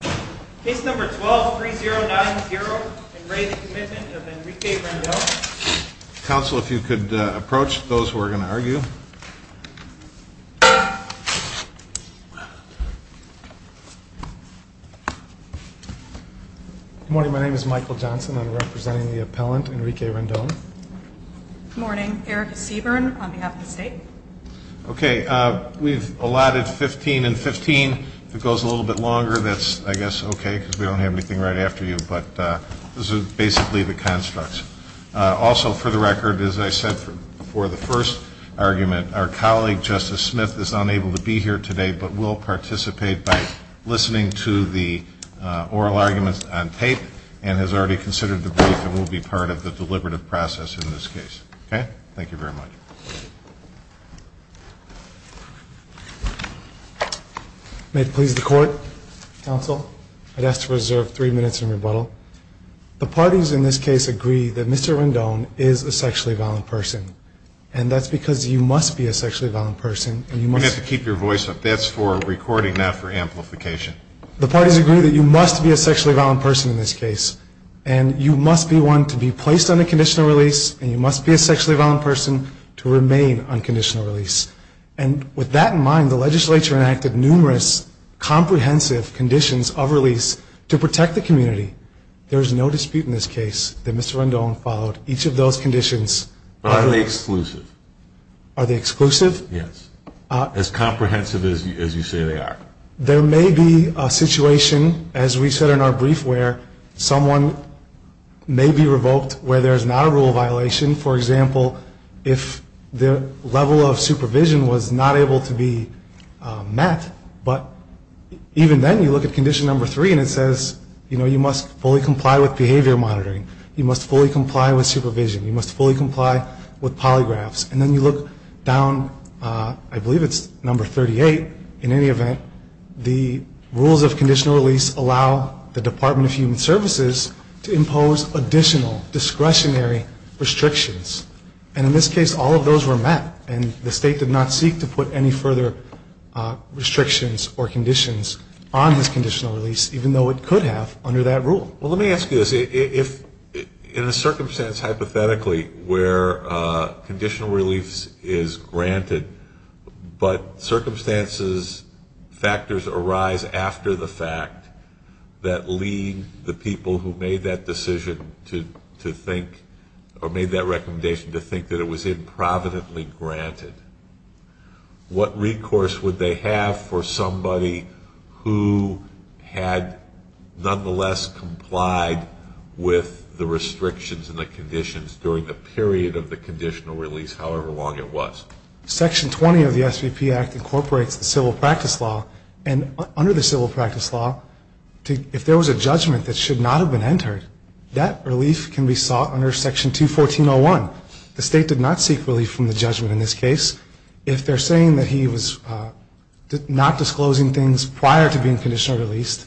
Council if you could approach those who are going to argue morning my name is Michael Johnson I'm representing the appellant Enrique Rendon morning Eric Seaburn on behalf of the state okay we've allotted 15 and 15 it goes a guess okay we don't have anything right after you but this is basically the constructs also for the record as I said for the first argument our colleague justice Smith is unable to be here today but will participate by listening to the oral arguments on tape and has already considered the brief that will be part of the deliberative process in this case okay thank you very much the parties in this case agree that Mr. Rendon is a sexually violent person and that's because you must be a sexually violent person and you must keep your voice up that's for recording not for amplification the parties agree that you must be a sexually violent person in this case and you must be one to be placed on a conditional release and you must be a sexually violent person to and with that in mind the legislature enacted numerous comprehensive conditions of release to protect the community there's no dispute in this case that Mr. Rendon followed each of those conditions are they exclusive are they exclusive yes as comprehensive as you say they are there may be a situation as we said in our brief where someone may be revoked where there's not rule violation for example if the level of supervision was not able to be met but even then you look at condition number three and it says you know you must fully comply with behavior monitoring you must fully comply with supervision you must fully comply with polygraphs and then you look down I believe it's number 38 in any event the rules of conditional release allow the Department of Human Services to impose additional discretionary restrictions and in this case all of those were met and the state did not seek to put any further restrictions or conditions on this conditional release even though it could have under that rule well let me ask you this if in a circumstance hypothetically where conditional relief is granted but circumstances factors arise after the fact that lead the people who made that decision to think or made that recommendation to think that it was improvidently granted what recourse would they have for somebody who had nonetheless complied with the restrictions and the conditions during the period of the conditional release however long it was section 20 of the SVP act incorporates the civil practice law and under the civil practice law if there was a judgment that should not have been entered that relief can be sought under section 214-01 the state did not seek relief from the judgment in this case if they're saying that he was not disclosing things prior to being conditionally released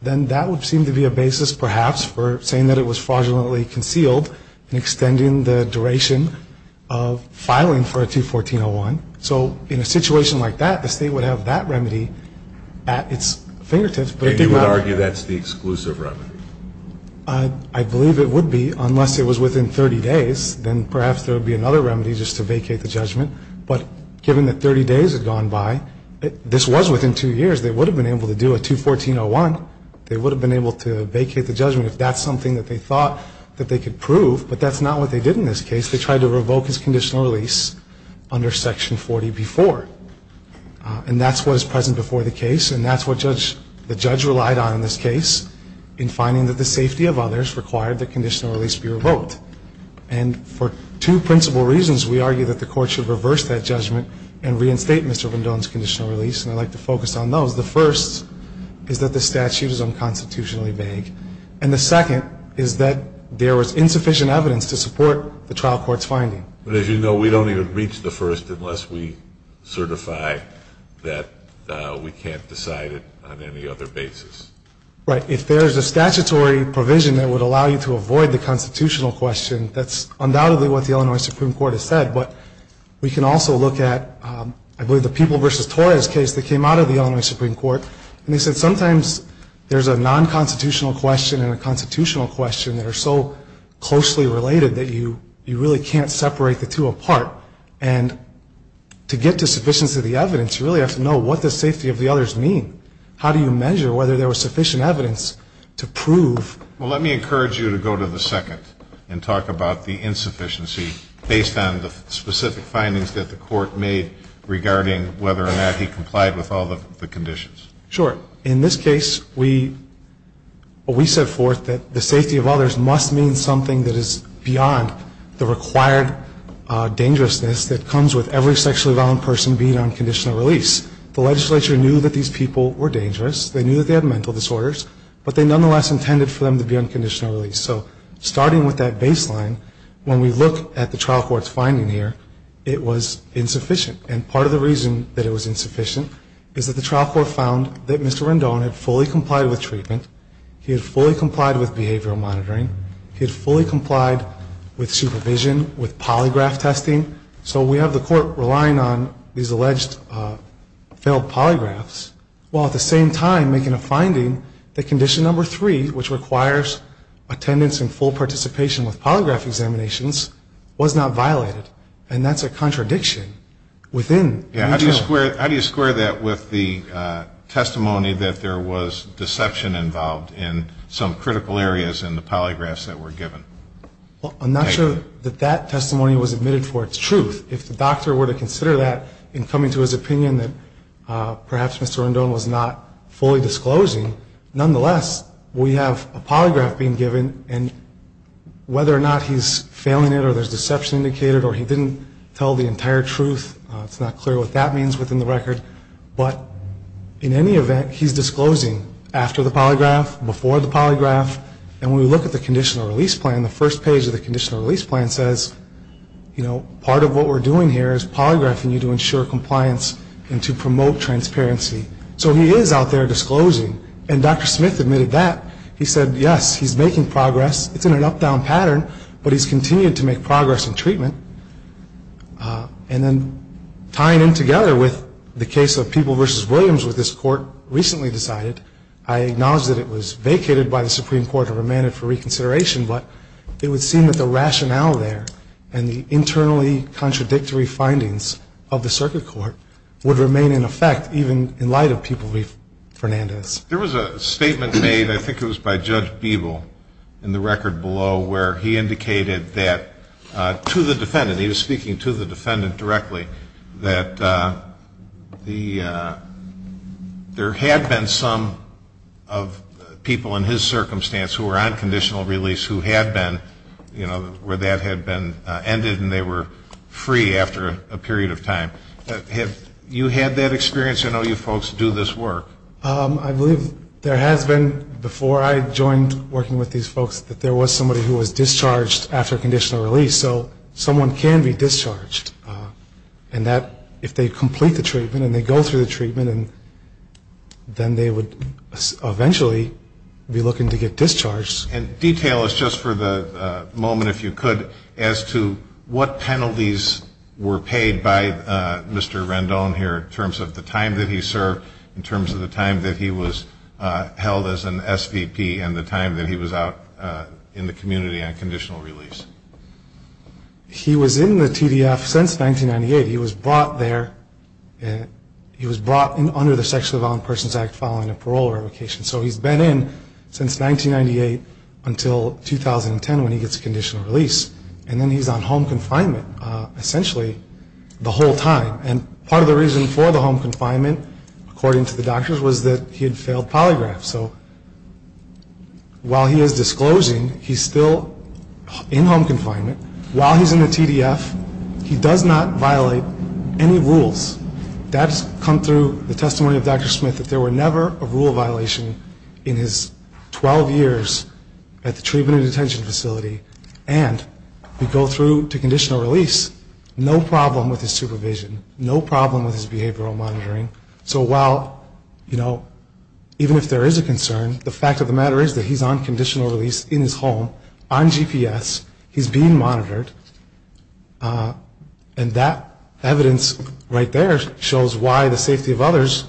then that would seem to be a basis perhaps for saying that it was fraudulently concealed and extending the duration of filing for a 214-01 so in a situation like that the state would have to have that remedy at its fingertips but it did not argue that's the exclusive remedy I believe it would be unless it was within 30 days then perhaps there would be another remedy just to vacate the judgment but given that 30 days had gone by this was within two years they would have been able to do a 214-01 they would have been able to vacate the judgment if that's something that they thought that they could prove but that's not what they did in this case they tried to revoke his conditional release under section 40 before and that's what is present before the case and that's what judge the judge relied on in this case in finding that the safety of others required the conditional release be revoked and for two principal reasons we argue that the court should reverse that judgment and reinstate Mr. Vendone's conditional release and I'd like to focus on those the first is that the statute is unconstitutionally vague and the second is that there was insufficient evidence to support the trial court's finding but as you know we don't even reach the first unless we certify that we can't decide it on any other basis right if there's a statutory provision that would allow you to avoid the constitutional question that's undoubtedly what the Illinois Supreme Court has said but we can also look at I believe the people versus Torres case that came out of the only Supreme Court and they said sometimes there's a non-constitutional question and a constitutional question that are so closely related that you you really can't separate the two apart and to get to sufficiency of the evidence you really have to know what the safety of the others mean how do you measure whether there was sufficient evidence to prove well let me encourage you to go to the second and talk about the insufficiency based on the specific findings that the court made regarding whether or not he complied with all the conditions sure in this case we we set forth that the that is beyond the required dangerousness that comes with every sexually violent person being on conditional release the legislature knew that these people were dangerous they knew that they had mental disorders but they nonetheless intended for them to be unconditional release so starting with that baseline when we look at the trial court's finding here it was insufficient and part of the reason that it was insufficient is that the trial court found that mr. Rendon had fully complied with treatment he had fully complied with behavioral monitoring he had fully complied with supervision with polygraph testing so we have the court relying on these alleged failed polygraphs while at the same time making a finding that condition number three which requires attendance and full participation with polygraph examinations was not violated and that's a contradiction within how do you square how do you square that with the testimony that there was deception involved in some critical areas in the polygraphs that were given well I'm not sure that that testimony was admitted for its truth if the doctor were to consider that in coming to his opinion that perhaps mr. Rendon was not fully disclosing nonetheless we have a polygraph being given and whether or not he's failing it or there's deception indicated or he didn't tell the entire truth it's not clear what that means within the record but in any event he's disclosing after the polygraph before the polygraph and we look at the conditional release plan the first page of the conditional release plan says you know part of what we're doing here is polygraphing you to ensure compliance and to promote transparency so he is out there disclosing and dr. Smith admitted that he said yes he's making progress it's in an up-down pattern but he's continued to make progress in treatment and then tying in together with the case of people versus Williams with this court recently decided I acknowledge that it was vacated by the Supreme Court and remanded for reconsideration but it would seem that the rationale there and the internally contradictory findings of the circuit court would remain in effect even in light of people we've Fernandez there was a statement made I think it indicated that to the defendant he was speaking to the defendant directly that the there had been some of people in his circumstance who were on conditional release who had been you know where that had been ended and they were free after a period of time have you had that experience I know you folks do this work I believe there has been before I joined working with these folks that there was somebody who was discharged after conditional release so someone can be discharged and that if they complete the treatment and they go through the treatment and then they would eventually be looking to get discharged and detail is just for the moment if you could as to what penalties were paid by Mr. Rendon here in terms of the time that he served in terms of the time that he was held as an SVP and the time that he was out in the community and conditional release he was in the TDF since 1998 he was brought there and he was brought in under the sexually violent persons act following a parole revocation so he's been in since 1998 until 2010 when he gets conditional release and then he's on home confinement essentially the whole time and part of the reason for the home confinement according to the doctors was that he had failed polygraph so while he is disclosing he's still in home confinement while he's in the TDF he does not violate any rules that's come through the testimony of Dr. Smith that there were never a rule violation in his 12 years at the treatment and detention facility and we go through to no problem with his behavioral monitoring so while you know even if there is a concern the fact of the matter is that he's on conditional release in his home on GPS he's being monitored and that evidence right there shows why the safety of others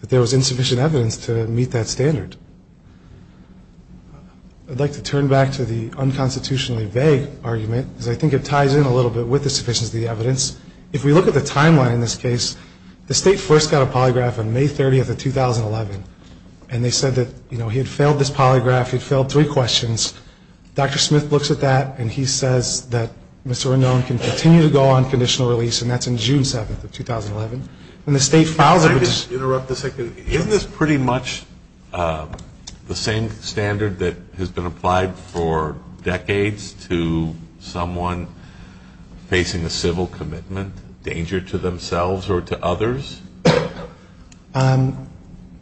that there was insufficient evidence to meet that standard. I'd like to turn back to the unconstitutionally vague argument because I think it ties in a little bit with the sufficiency of the evidence if we look at the timeline in this case the state first got a polygraph on May 30th of 2011 and they said that you know he had failed this polygraph he'd failed three questions Dr. Smith looks at that and he says that Mr. Renone can continue to go on conditional release and that's in June 7th of 2011 and the state files it. Isn't this pretty much the same standard that has been applied for decades to someone facing a civil commitment danger to themselves or to others?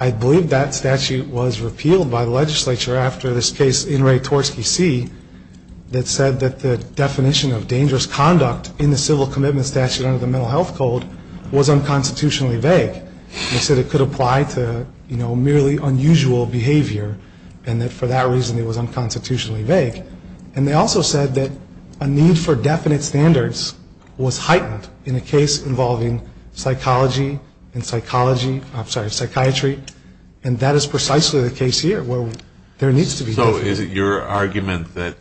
I believe that statute was repealed by the legislature after this case in Ray Torsky C that said that the definition of dangerous conduct in the civil commitment statute under the mental health code was unconstitutionally vague. They said it could apply to you know merely unusual behavior and that for that reason it was unconstitutionally vague and they also said that a need for definite standards was heightened in a case involving psychology and psychology I'm sorry psychiatry and that is precisely the case here where there needs to be. So is it your argument that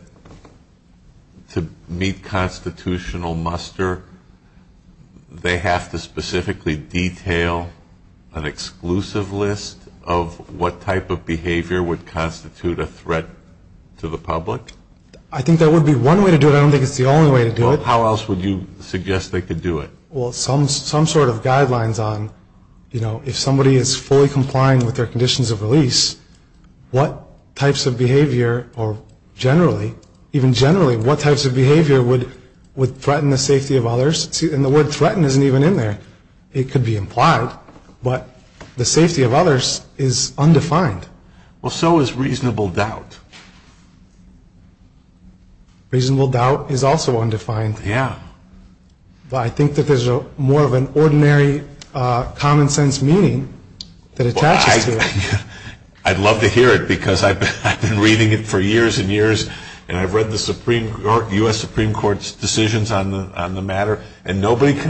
to meet constitutional muster they have to specifically detail an exclusive list of what type of behavior would constitute a threat to the public? I think there would be one way to do it I don't think it's the only way to do it. How else would you suggest they could do it? Well some some sort of guidelines on you know if somebody is fully complying with their conditions of release what types of behavior or generally even generally what types of behavior would would threaten the safety of others and the word threaten isn't even in there it could be implied but the safety of reasonable doubt. Reasonable doubt is also undefined. Yeah. I think that there's a more of an ordinary common-sense meaning that attaches to it. I'd love to hear it because I've been reading it for years and years and I've read the Supreme Court US Supreme Court's decisions on the matter and nobody can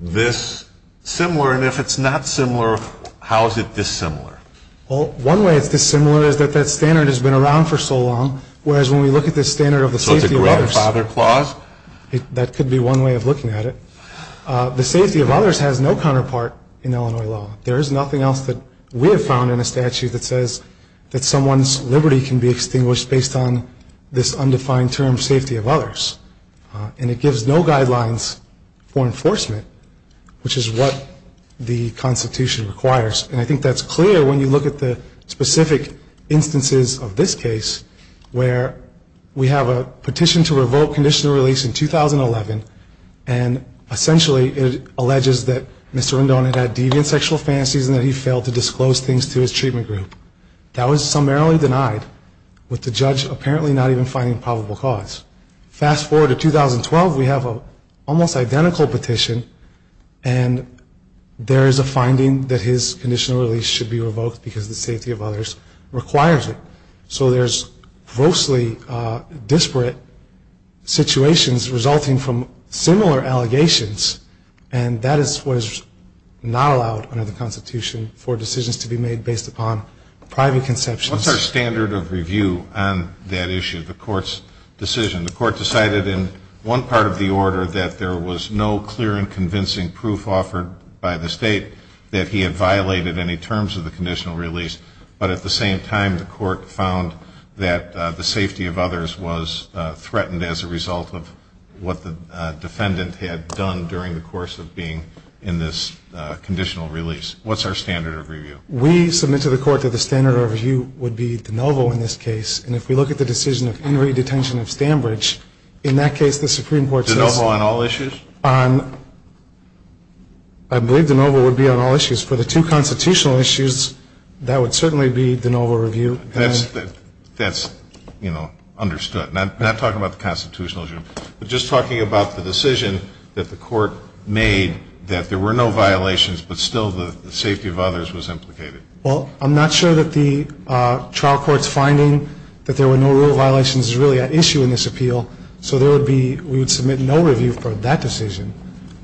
this similar and if it's not similar how is it dissimilar? Well one way it's dissimilar is that that standard has been around for so long whereas when we look at this standard of the safety of others. So it's a grandfather clause? That could be one way of looking at it. The safety of others has no counterpart in Illinois law. There is nothing else that we have found in a statute that says that someone's liberty can be extinguished based on this undefined term safety of others and it which is what the Constitution requires and I think that's clear when you look at the specific instances of this case where we have a petition to revoke conditional release in 2011 and essentially it alleges that Mr. Rendon had deviant sexual fantasies and that he failed to disclose things to his treatment group. That was summarily denied with the judge apparently not even finding probable cause. Fast forward to 2012 we have a almost identical petition and there is a finding that his conditional release should be revoked because the safety of others requires it. So there's grossly disparate situations resulting from similar allegations and that is what is not allowed under the Constitution for decisions to be made based upon private conceptions. What's our standard of review on that issue the court's decision? The court's decision is that it was clear and convincing proof offered by the state that he had violated any terms of the conditional release but at the same time the court found that the safety of others was threatened as a result of what the defendant had done during the course of being in this conditional release. What's our standard of review? We submit to the court that the standard of review would be de novo in this case and if we look at the decision of Henry detention of Stambridge in that case the Supreme Court says. De novo on all issues? I believe de novo would be on all issues. For the two constitutional issues that would certainly be de novo review. That's you know understood. Not talking about the constitutional issue but just talking about the decision that the court made that there were no violations but still the safety of others was implicated. Well I'm not sure that the trial court's finding that there were no real violations is really an issue in this appeal so there would be we would submit no review for that decision.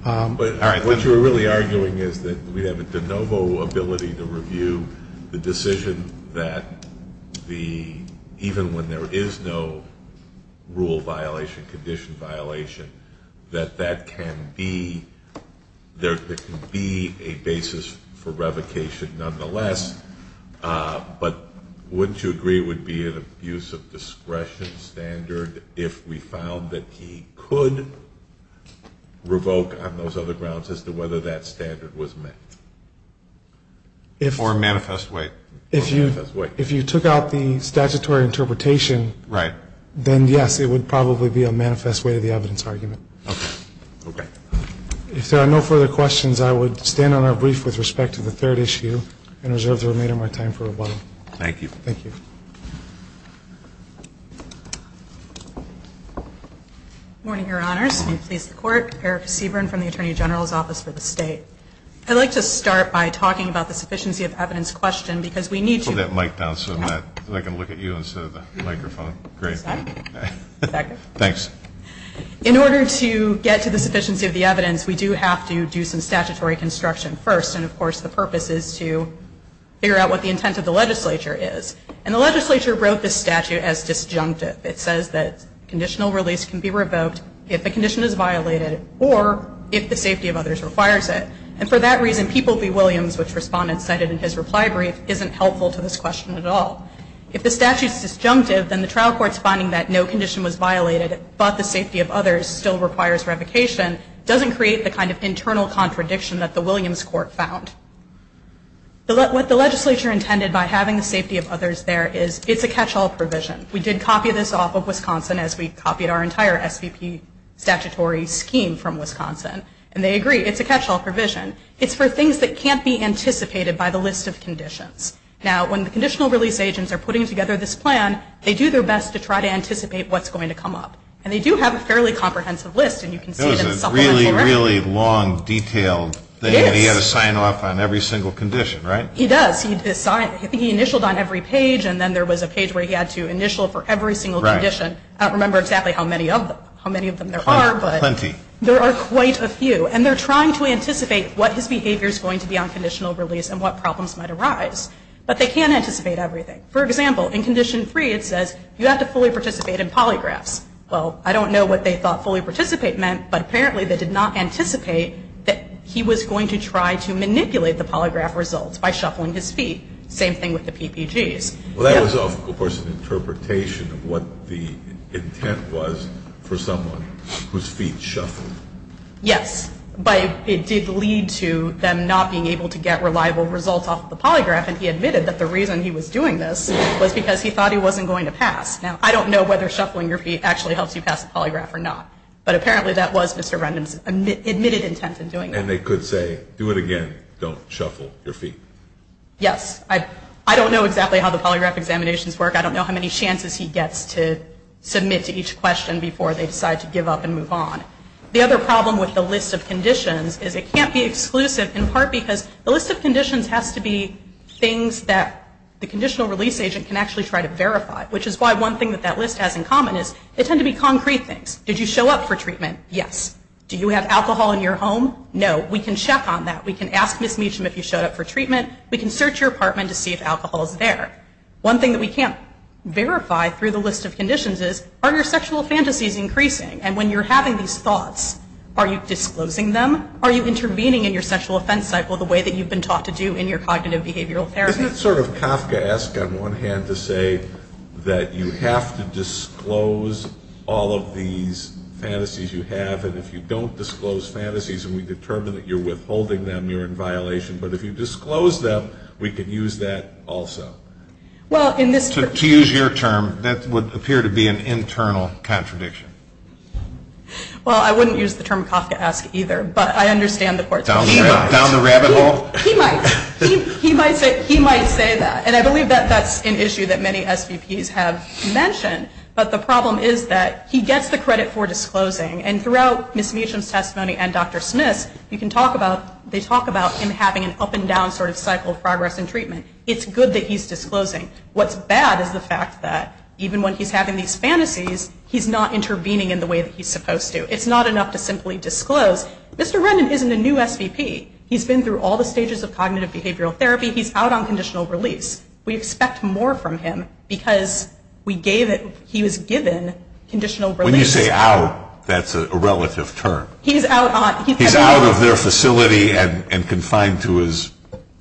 But what you're really arguing is that we have a de novo ability to review the decision that the even when there is no rule violation condition violation that that can be there could be a basis for revocation nonetheless but wouldn't you agree would be an abuse of discretion standard if we found that he could revoke on those other grounds as to whether that standard was met? Or a manifest way. If you if you took out the statutory interpretation. Right. Then yes it would probably be a manifest way to the evidence argument. Okay. If there are no further questions I would stand on our brief with respect to the third issue and reserve the remainder of my time for questions. Morning your honors. May it please the court. Erica Seaborn from the Attorney General's Office for the state. I'd like to start by talking about the sufficiency of evidence question because we need to. Put that mic down so that I can look at you instead of the microphone. Great. Thanks. In order to get to the sufficiency of the evidence we do have to do some statutory construction first and of course the purpose is to figure out what the intent of the legislature is. And the legislature wrote this statute as disjunctive. It says that conditional release can be revoked if the condition is violated or if the safety of others requires it. And for that reason people v. Williams which respondents cited in his reply brief isn't helpful to this question at all. If the statute is disjunctive then the trial court's finding that no condition was violated but the safety of others still requires revocation doesn't create the kind of internal contradiction that the Williams court found. What the safety of others there is it's a catch-all provision. We did copy this off of Wisconsin as we copied our entire SVP statutory scheme from Wisconsin. And they agree it's a catch-all provision. It's for things that can't be anticipated by the list of conditions. Now when the conditional release agents are putting together this plan they do their best to try to anticipate what's going to come up. And they do have a fairly comprehensive list and you can see it in the supplemental record. It's a really, really long detailed thing. Yes. You have to sign off on every single condition, right? He does. He initialed on every page and then there was a page where he had to initial for every single condition. Right. I don't remember exactly how many of them. How many of them there are but. Plenty. There are quite a few. And they're trying to anticipate what his behavior is going to be on conditional release and what problems might arise. But they can't anticipate everything. For example, in condition 3 it says you have to fully participate in polygraphs. Well, I don't know what they thought fully participate meant but apparently they did not anticipate that he was going to try to manipulate the polygraph results by shuffling his feet. Same thing with the PPGs. Well, that was of course an interpretation of what the intent was for someone whose feet shuffled. Yes. But it did lead to them not being able to get reliable results off the polygraph and he admitted that the reason he was doing this was because he thought he wasn't going to pass. Now, I don't know whether shuffling your feet actually helps you pass the polygraph or not. But apparently that was Mr. Rendon's admitted intent in doing it. And they could say, do it again, don't shuffle your feet. Yes. I don't know exactly how the polygraph examinations work. I don't know how many chances he gets to submit to each question before they decide to give up and move on. The other problem with the list of conditions is it can't be exclusive in part because the list of conditions has to be things that the conditional release agent can actually try to verify, which is why one thing that that list has in common is they tend to be concrete things. Did you show up for treatment? Yes. Do you have alcohol in your home? No. We can check on that. We can ask Ms. Meacham if you showed up for treatment. We can search your apartment to see if alcohol is there. One thing that we can't verify through the list of conditions is, are your sexual fantasies increasing? And when you're having these thoughts, are you disclosing them? Are you intervening in your sexual offense cycle the way that you've been taught to do in your cognitive behavioral therapy? Isn't it sort of Kafkaesque on one hand to say that you have to disclose all of these fantasies you have, and if you don't disclose fantasies and we determine that you're withholding them, you're in violation. But if you disclose them, we could use that also. Well, in this... To use your term, that would appear to be an internal contradiction. Well, I wouldn't use the term Kafkaesque either, but I understand the court's... Down the rabbit hole? He might. He might say that, and I believe that that's an issue that many SVPs have mentioned. But the problem is that he gets the credit for disclosing, and throughout Ms. Meacham's testimony and Dr. Smith's, you can talk about... They talk about him having an up-and-down sort of cycle of progress in treatment. It's good that he's disclosing. What's bad is the fact that, even when he's having these fantasies, he's not intervening in the way that he's supposed to. It's not enough to simply disclose. Mr. Rendon isn't a new SVP. He's been through all the stages of cognitive behavioral therapy. He's out on conditional release. We expect more from him because we gave it... He was given conditional release. When you say out, that's a relative term. He's out on... He's out of their facility and confined to his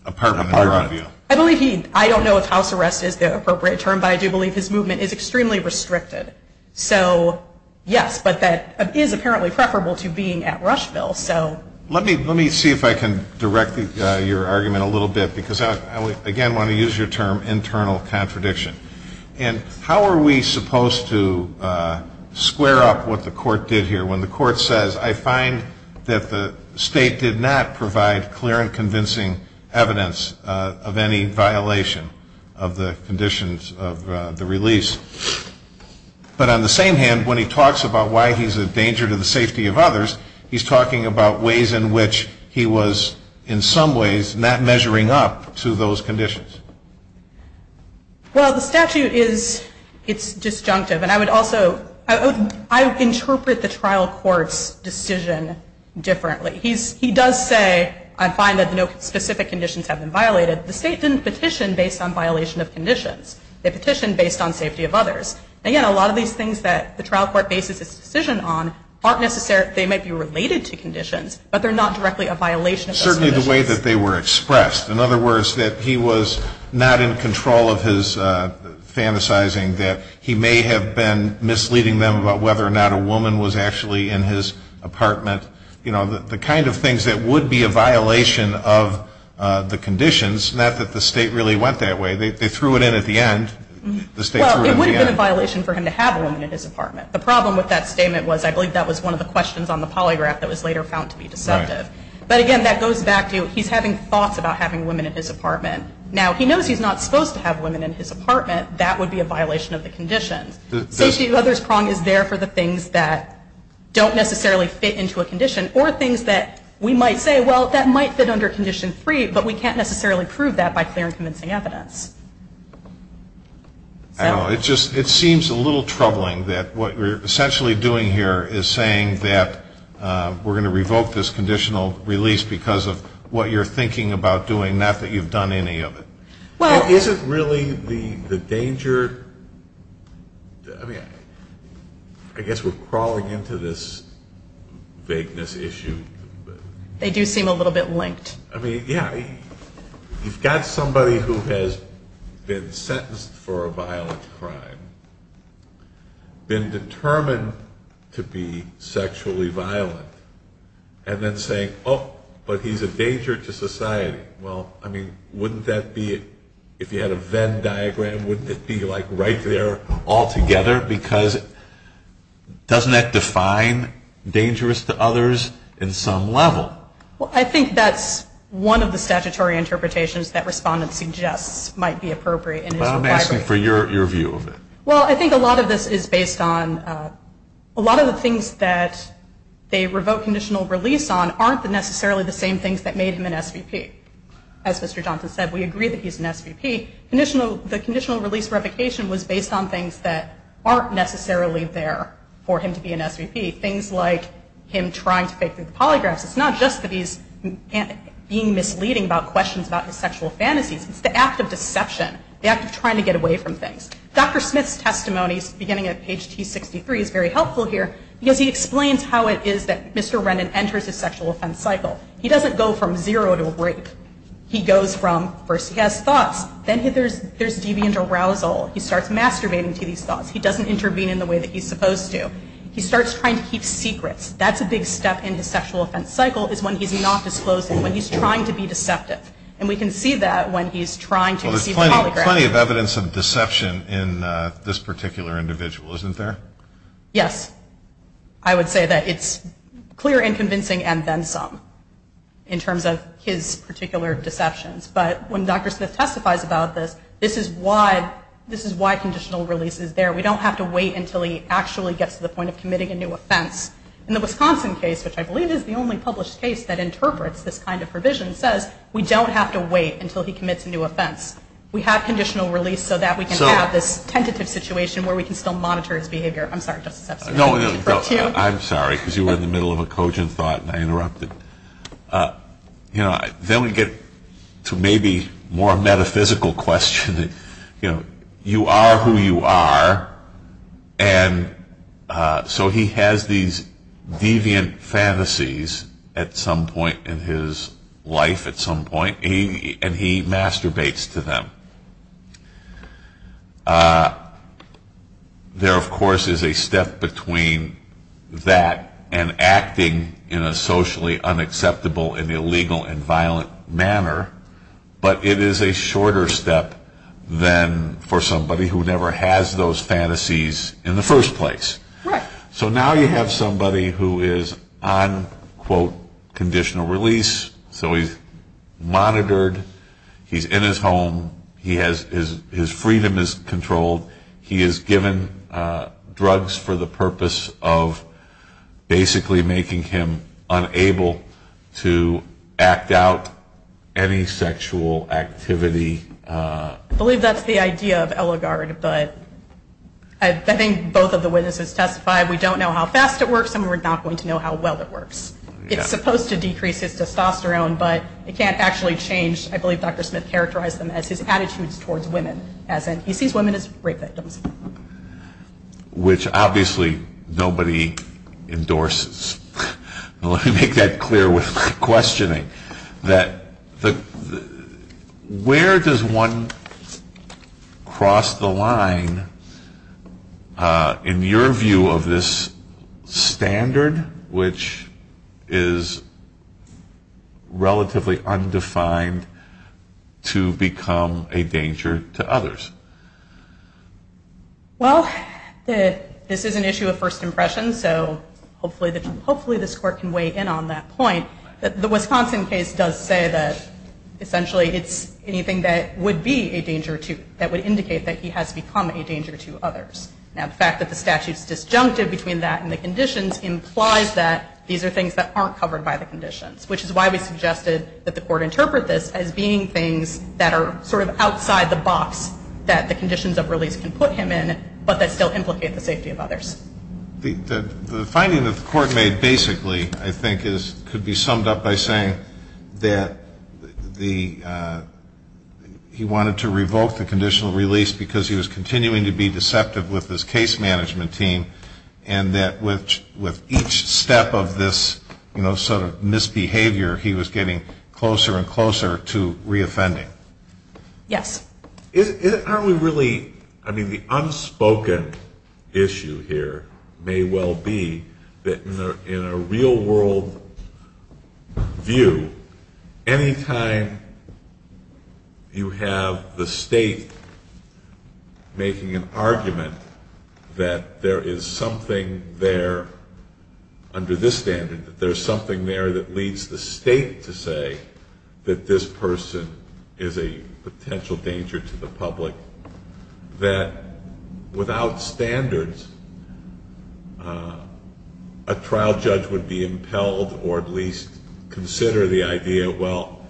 apartment. I believe he... I don't know if house arrest is the appropriate term, but I do believe his movement is extremely restricted. So, yes, but that is apparently preferable to being at Rushville, so... Let me see if I can direct your argument a little bit because I, again, want to use your term, internal contradiction. And how are we supposed to square up what the court did here when the court says, I find that the state did not provide clear and convincing evidence of any violation of the conditions of the release. But on the same hand, when he talks about why he's a danger to the safety of others, he's talking about ways in which he was, in some ways, not measuring up to those conditions. Well, the statute is... It's disjunctive. And I would also... I interpret the trial court's decision differently. He does say, I find that no specific conditions have been violated. The state didn't petition based on violation of conditions. They petitioned based on safety of others. And, again, a lot of these things that the trial court bases its decision on aren't necessarily... They might be related to conditions, but they're not directly a violation of those conditions. Certainly the way that they were expressed. In other words, that he was not in control of his fantasizing that he may have been misleading them about whether or not a woman was actually in his apartment. You know, the kind of things that would be a violation of the conditions, not that the state really went that way. They threw it in at the end. The state threw it in at the end. Well, it would have been a violation for him to have a woman in his apartment. The problem with that statement was, I believe that was one of the questions on the polygraph that was later found to be deceptive. But, again, that goes back to, he's having thoughts about having women in his apartment. Now, he knows he's not supposed to have women in his apartment. That would be a violation of the conditions. Safety of others prong is there for the things that don't necessarily fit into a condition or things that we might say, well, that might fit under condition three, but we can't necessarily prove that by clear and convincing evidence. I don't know. It just, it seems a little troubling that what we're essentially doing here is saying that we're going to revoke this conditional release because of what you're thinking about doing, not that you've done any of it. Well. Isn't really the danger, I mean, I guess we're crawling into this vagueness issue. They do seem a little bit linked. I mean, yeah, you've got somebody who has been sentenced for a violent crime, been determined to be sexually violent, and then saying, oh, but he's a danger to society. Well, I mean, wouldn't that be, if you had a Venn diagram, wouldn't it be like right there altogether? Because doesn't that define dangerous to others in some level? Well, I think that's one of the statutory interpretations that Respondent suggests might be appropriate. Well, I'm asking for your view of it. Well, I think a lot of this is based on, a lot of the things that they revoke conditional release on aren't necessarily the same things that made him an SVP. As Mr. Johnson said, we agree that he's an SVP. The conditional release revocation was based on things that aren't necessarily there for him to be an SVP. Things like him trying to pick through the polygraphs. It's not just that he's being misleading about questions about his sexual fantasies. It's the act of deception, the act of trying to get away from things. Dr. Smith's testimonies, beginning at page T63, is very helpful here because he explains how it is that Mr. Rennan enters his sexual offense cycle. He doesn't go from zero to rape. He goes from, first he has thoughts, then there's deviant arousal. He starts masturbating to these thoughts. He doesn't intervene in the way that he's supposed to. He starts trying to keep secrets. That's a big step in his sexual offense cycle, is when he's not disclosing, when he's trying to be deceptive. And we can see that when he's trying to receive a polygraph. Well, there's plenty of evidence of deception in this particular individual, isn't there? Yes. I would say that it's clear and convincing and then some, in terms of his particular deceptions. But when Dr. Smith testifies about this, this is why conditional release is there. We don't have to wait until he actually gets to the point of committing a new offense. In the Wisconsin case, which I believe is the only published case that interprets this kind of provision, says we don't have to wait until he commits a new offense. We have conditional release so that we can have this tentative situation where we can still monitor his behavior. I'm sorry, Justice Epstein. I'm sorry, because you were in the middle of a cogent thought and I interrupted. Then we get to maybe more metaphysical questions. You are who you are. And so he has these deviant fantasies at some point in his life, at some point. And he masturbates to them. There, of course, is a step between that and acting in a socially unacceptable and illegal and violent manner. But it is a shorter step than for somebody who never has those fantasies in the first place. So now you have somebody who is on, quote, conditional release. So he's monitored. He's in his home. His freedom is controlled. He is given drugs for the purpose of basically making him unable to act out any sexual activity. I believe that's the idea of Eligard. But I think both of the witnesses testified, we don't know how fast it works and we're not going to know how well it works. It's supposed to decrease his testosterone, but it can't actually change, I believe Dr. Smith characterized them as his attitudes towards women. As in, he sees women as rape victims. Which obviously nobody endorses. Let me make that clear with my questions. Has one crossed the line, in your view, of this standard, which is relatively undefined, to become a danger to others? Well, this is an issue of first impression, so hopefully this court can weigh in on that point. The Wisconsin case does say that essentially it's anything that would be a danger to, that would indicate that he has become a danger to others. Now, the fact that the statute's disjunctive between that and the conditions implies that these are things that aren't covered by the conditions, which is why we suggested that the court interpret this as being things that are sort of outside the box that the conditions of release can put him in, but that still implicate the safety of others. The finding that the court made basically, I think, could be summed up by saying that he wanted to revoke the conditional release because he was continuing to be deceptive with his case management team, and that with each step of this sort of misbehavior, he was getting closer and closer to re-offending. Yes. I mean, the unspoken issue here may well be that in a real world view, any time you have the state making an argument that there is something there under this standard, that there's something there that leads the danger to the public, that without standards, a trial judge would be impelled or at least consider the idea, well,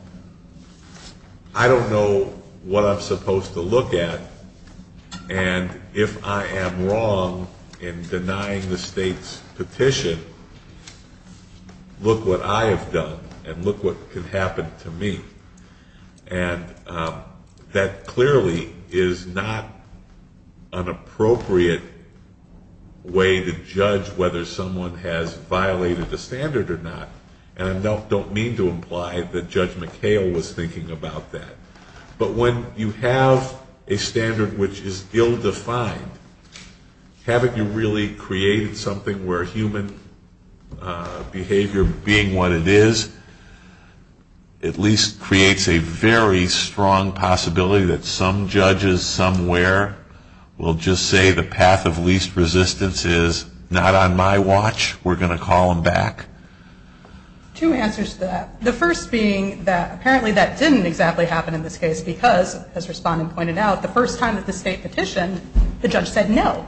I don't know what I'm supposed to look at, and if I am wrong in denying the state's petition, look what I have done, and look what can happen to me. That clearly is not an appropriate way to judge whether someone has violated the standard or not, and I don't mean to imply that Judge McHale was thinking about that, but when you have a standard which is ill-defined, haven't you really created something where human behavior being what it is, at least creates a very strong possibility that some judges somewhere will just say the path of least resistance is not on my watch, we're going to call them back? Two answers to that. The first being that apparently that didn't exactly happen in this case because, as Respondent pointed out, the first time that the state petitioned, the judge said no.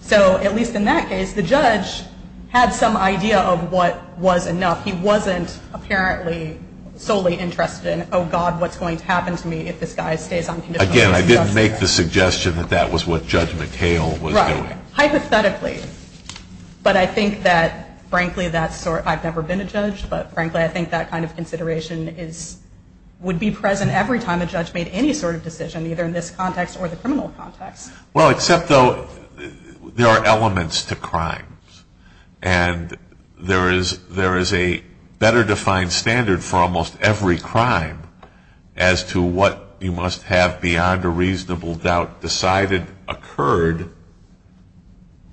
So at least in that case, the judge had some idea of what was enough. He wasn't apparently solely interested in, oh, God, what's going to happen to me if this guy stays unconditionally in this position? Again, I didn't make the suggestion that that was what Judge McHale was doing. Right. Hypothetically. But I think that, frankly, that's sort of, I've never been a judge, but I've never seen a time a judge made any sort of decision, either in this context or the criminal context. Well, except, though, there are elements to crimes, and there is a better defined standard for almost every crime as to what you must have beyond a reasonable doubt decided, occurred,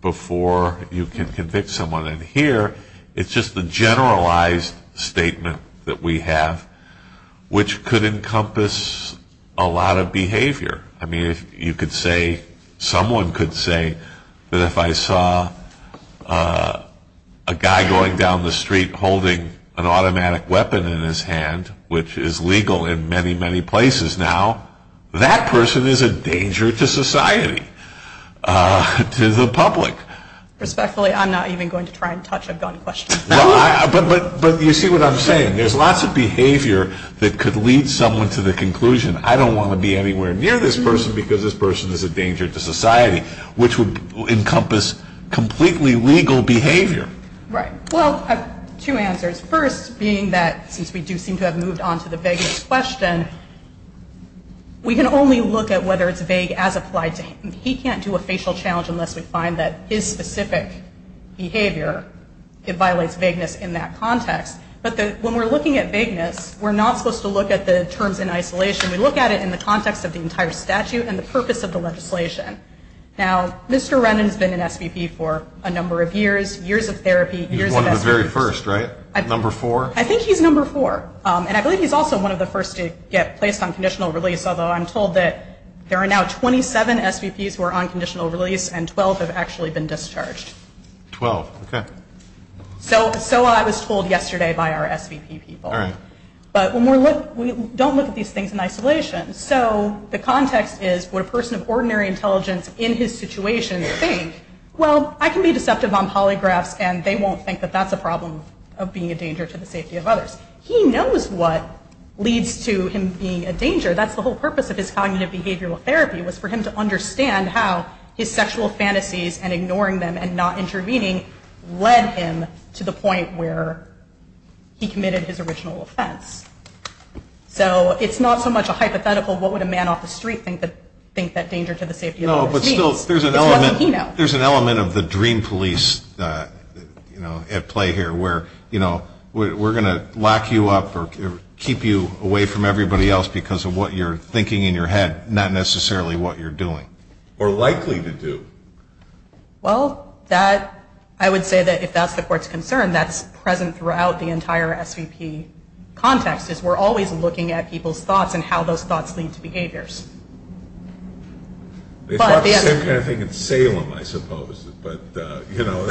before you can convict someone. And here, it's just the generalized statement that we have, which could encompass a lot of behavior. I mean, you could say, someone could say, that if I saw a guy going down the street holding an automatic weapon in his hand, which is legal in many, many places now, that person is a danger to society, to the public. Respectfully, I'm not even going to try and touch a gun question. But you see what I'm saying. There's lots of behavior that could lead someone to the conclusion, I don't want to be anywhere near this person because this person is a danger to society, which would encompass completely legal behavior. Right. Well, I have two answers. First, being that, since we do seem to have moved on to the vagueness question, we can only look at whether it's vague as applied to him. He can't do a facial challenge unless we find that his specific behavior, it violates vagueness in that context. But when we're looking at vagueness, we're not supposed to look at the terms in isolation. We look at it in the context of the entire statute and the purpose of the legislation. Now, Mr. Rennan has been an SVP for a number of years, years of therapy, years of SVPs. He's one of the very first, right? Number four? I think he's number four. And I believe he's also one of the first to get placed on conditional release, although I'm told that there are now 27 SVPs who are on conditional release and 12 have actually been discharged. Twelve. Okay. So I was told yesterday by our SVP people. All right. But when we look, we don't look at these things in isolation. So the context is, would a person of ordinary intelligence in his situation think, well, I can be deceptive on polygraphs and they won't think that that's a problem of being a danger to the safety of others? He knows what leads to him being a danger. That's the whole purpose of his cognitive behavioral therapy, was for him to understand how his sexual fantasies and ignoring them and not intervening led him to the point where he committed his original offense. So it's not so much a hypothetical, what would a man off the street think that danger to the safety of others means? No, but still, there's an element of the dream police, you know, at play here where, you know, we're going to lock you up or keep you away from everybody else because of what you're thinking in your head, not necessarily what you're doing. Or likely to do. Well, that, I would say that if that's the court's concern, that's present throughout the entire SVP context, is we're always looking at people's thoughts and how those thoughts lead to behaviors. They thought the same kind of thing in Salem, I suppose, but, you know.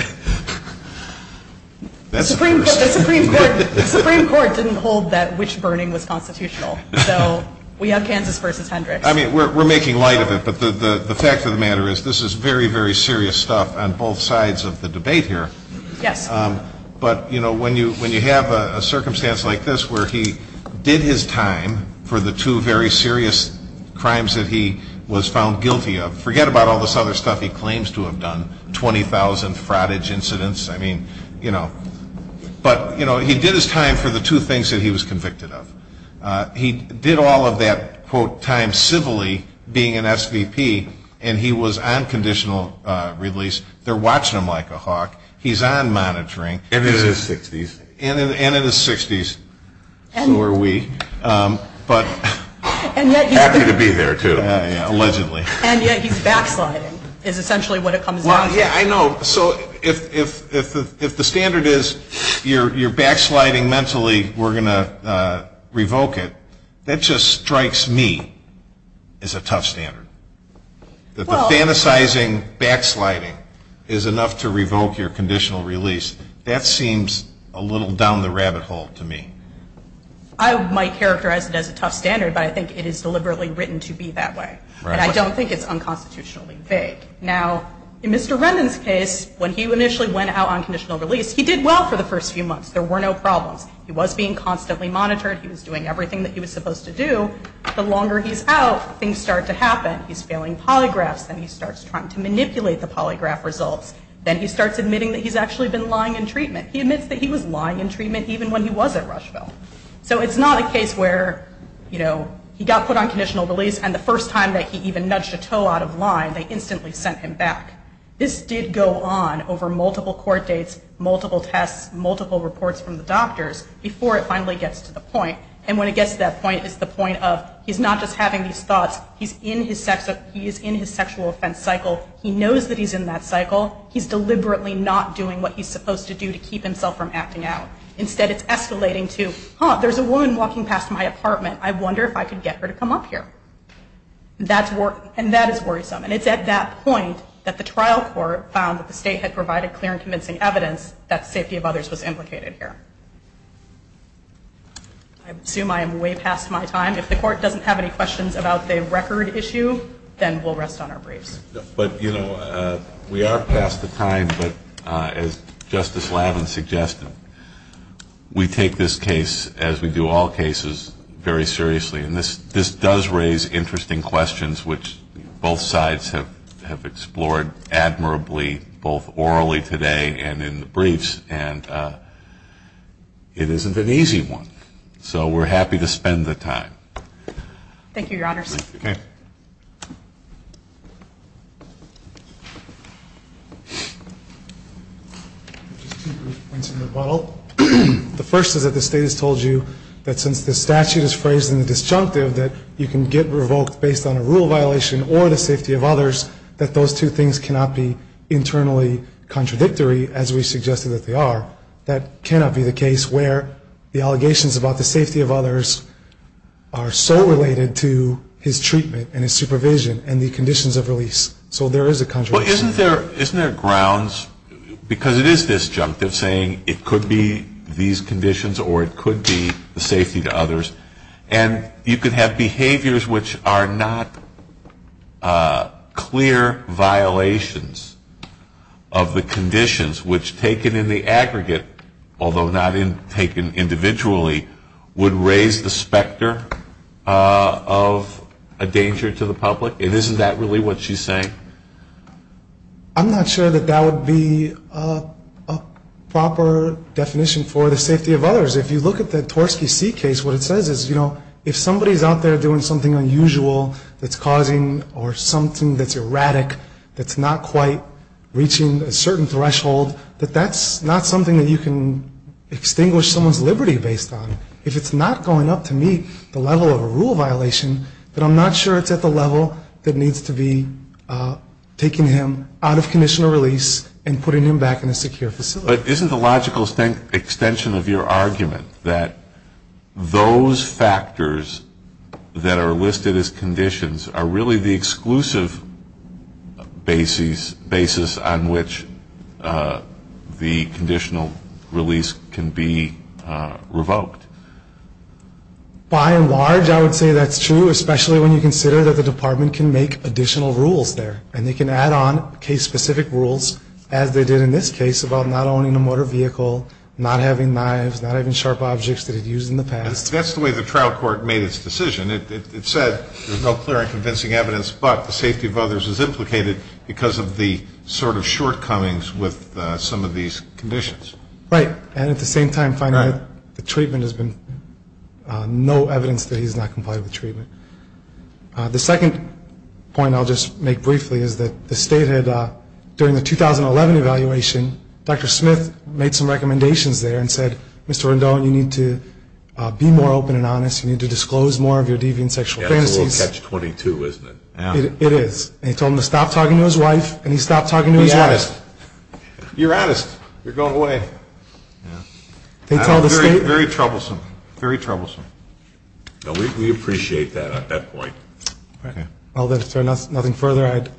The Supreme Court didn't hold that wish burning was constitutional. So we have Kansas v. Hendricks. I mean, we're making light of it, but the fact of the matter is this is very, very serious stuff on both sides of the debate here. Yes. But, you know, when you have a circumstance like this where he did his time for the two very serious crimes that he was found guilty of, forget about all this other stuff he claims to have done, 20,000 frottage incidents, I mean, you know. But, you know, he did his time for the two things that he was convicted of. He did all of that, quote, time civilly, being an SVP, and he was on conditional release. They're watching him like a hawk. He's on monitoring. And he's in his 60s. And in his 60s. Who are we? Happy to be there, too. Allegedly. And yet he's backsliding is essentially what it comes down to. Well, yeah, I know. So if the standard is you're backsliding mentally, we're going to revoke it, that just strikes me as a tough standard. That the fantasizing backsliding is enough to revoke your conditional release, that seems a little down the rabbit hole to me. I might characterize it as a tough standard, but I think it is deliberately written to be that way. And I don't think it's unconstitutionally vague. Now, in Mr. Rendon's case, when he initially went out on conditional release, he did well for the first few months. There were no problems. He was being constantly monitored. He was doing everything that he was supposed to do. The longer he's out, things start to happen. He's failing polygraphs. Then he starts trying to manipulate the polygraph results. Then he starts admitting that he's actually been lying in treatment. He admits that he was lying in treatment even when he was at Rushville. So it's not a case where, you know, he got put on conditional release and the first time that he even nudged a toe out of line, they instantly sent him back. This did go on over multiple court dates, multiple tests, multiple reports from the doctors before it finally gets to the point. And when it gets to that point, it's the point of he's not just having these thoughts. He's in his sexual offense cycle. He knows that he's in that cycle. He's deliberately not doing what he's supposed to do to keep himself from acting out. Instead, it's escalating to, huh, there's a woman walking past my apartment. I wonder if I could get her to come up here. And that is worrisome. And it's at that point that the trial court found that the state had provided clear and convincing evidence that safety of others was implicated here. I assume I am way past my time. If the court doesn't have any questions about the record issue, then we'll rest on our briefs. But, you know, we are past the time. But as Justice Lavin suggested, we take this case, as we do all cases, very seriously. And this does raise interesting questions, which both sides have explored admirably, both orally today and in the briefs. And it isn't an easy one. So we're happy to spend the time. Thank you, Your Honors. Okay. Just two brief points in rebuttal. The first is that the state has told you that since the statute is phrased in the disjunctive, that you can get revoked based on a rule violation or the safety of others, that those two things cannot be internally contradictory, as we suggested that they are. That cannot be the case where the allegations about the safety of others are so related to his treatment and his supervision and the conditions of release. So there is a contradiction. Well, isn't there grounds? Because it is disjunctive, saying it could be these conditions or it could be the safety to others. And you could have behaviors which are not clear violations of the conditions, which taken in the aggregate, although not taken individually, would raise the specter of a danger to the public. And isn't that really what she's saying? I'm not sure that that would be a proper definition for the safety of others. If you look at the Torsky C case, what it says is, you know, if somebody is out there doing something unusual that's causing or something that's erratic, that's not quite reaching a certain threshold, that that's not something that you can extinguish someone's liberty based on. If it's not going up to meet the level of a rule violation, then I'm not sure it's at the level that needs to be taking him out of conditional release and putting him back in a secure facility. But isn't the logical extension of your argument that those factors that are listed as conditions are really the exclusive basis on which the conditional release can be revoked? By and large, I would say that's true, especially when you consider that the department can make additional rules there. And they can add on case-specific rules, as they did in this case, about not owning a motor vehicle, not having knives, not having sharp objects that it used in the past. That's the way the trial court made its decision. It said there's no clear and convincing evidence, but the safety of others is implicated because of the sort of shortcomings with some of these conditions. Right. And at the same time, the treatment has been no evidence that he's not compliant with treatment. The second point I'll just make briefly is that the state had, during the 2011 evaluation, Dr. Smith made some recommendations there and said, Mr. Rendon, you need to be more open and honest. You need to disclose more of your deviant sexual fantasies. That's a little catch-22, isn't it? It is. And he told them to stop talking to his wife, and he stopped talking to his wife. Be honest. You're honest. You're going away. Very troublesome. Very troublesome. We appreciate that at that point. If there's nothing further, I'd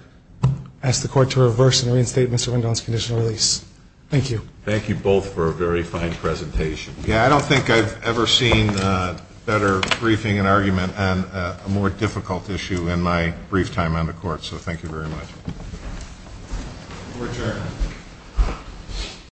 ask the court to reverse and reinstate Mr. Rendon's conditional release. Thank you. Thank you both for a very fine presentation. Yeah, I don't think I've ever seen better briefing and argument on a more difficult issue in my brief time on the court, so thank you very much. Court adjourned.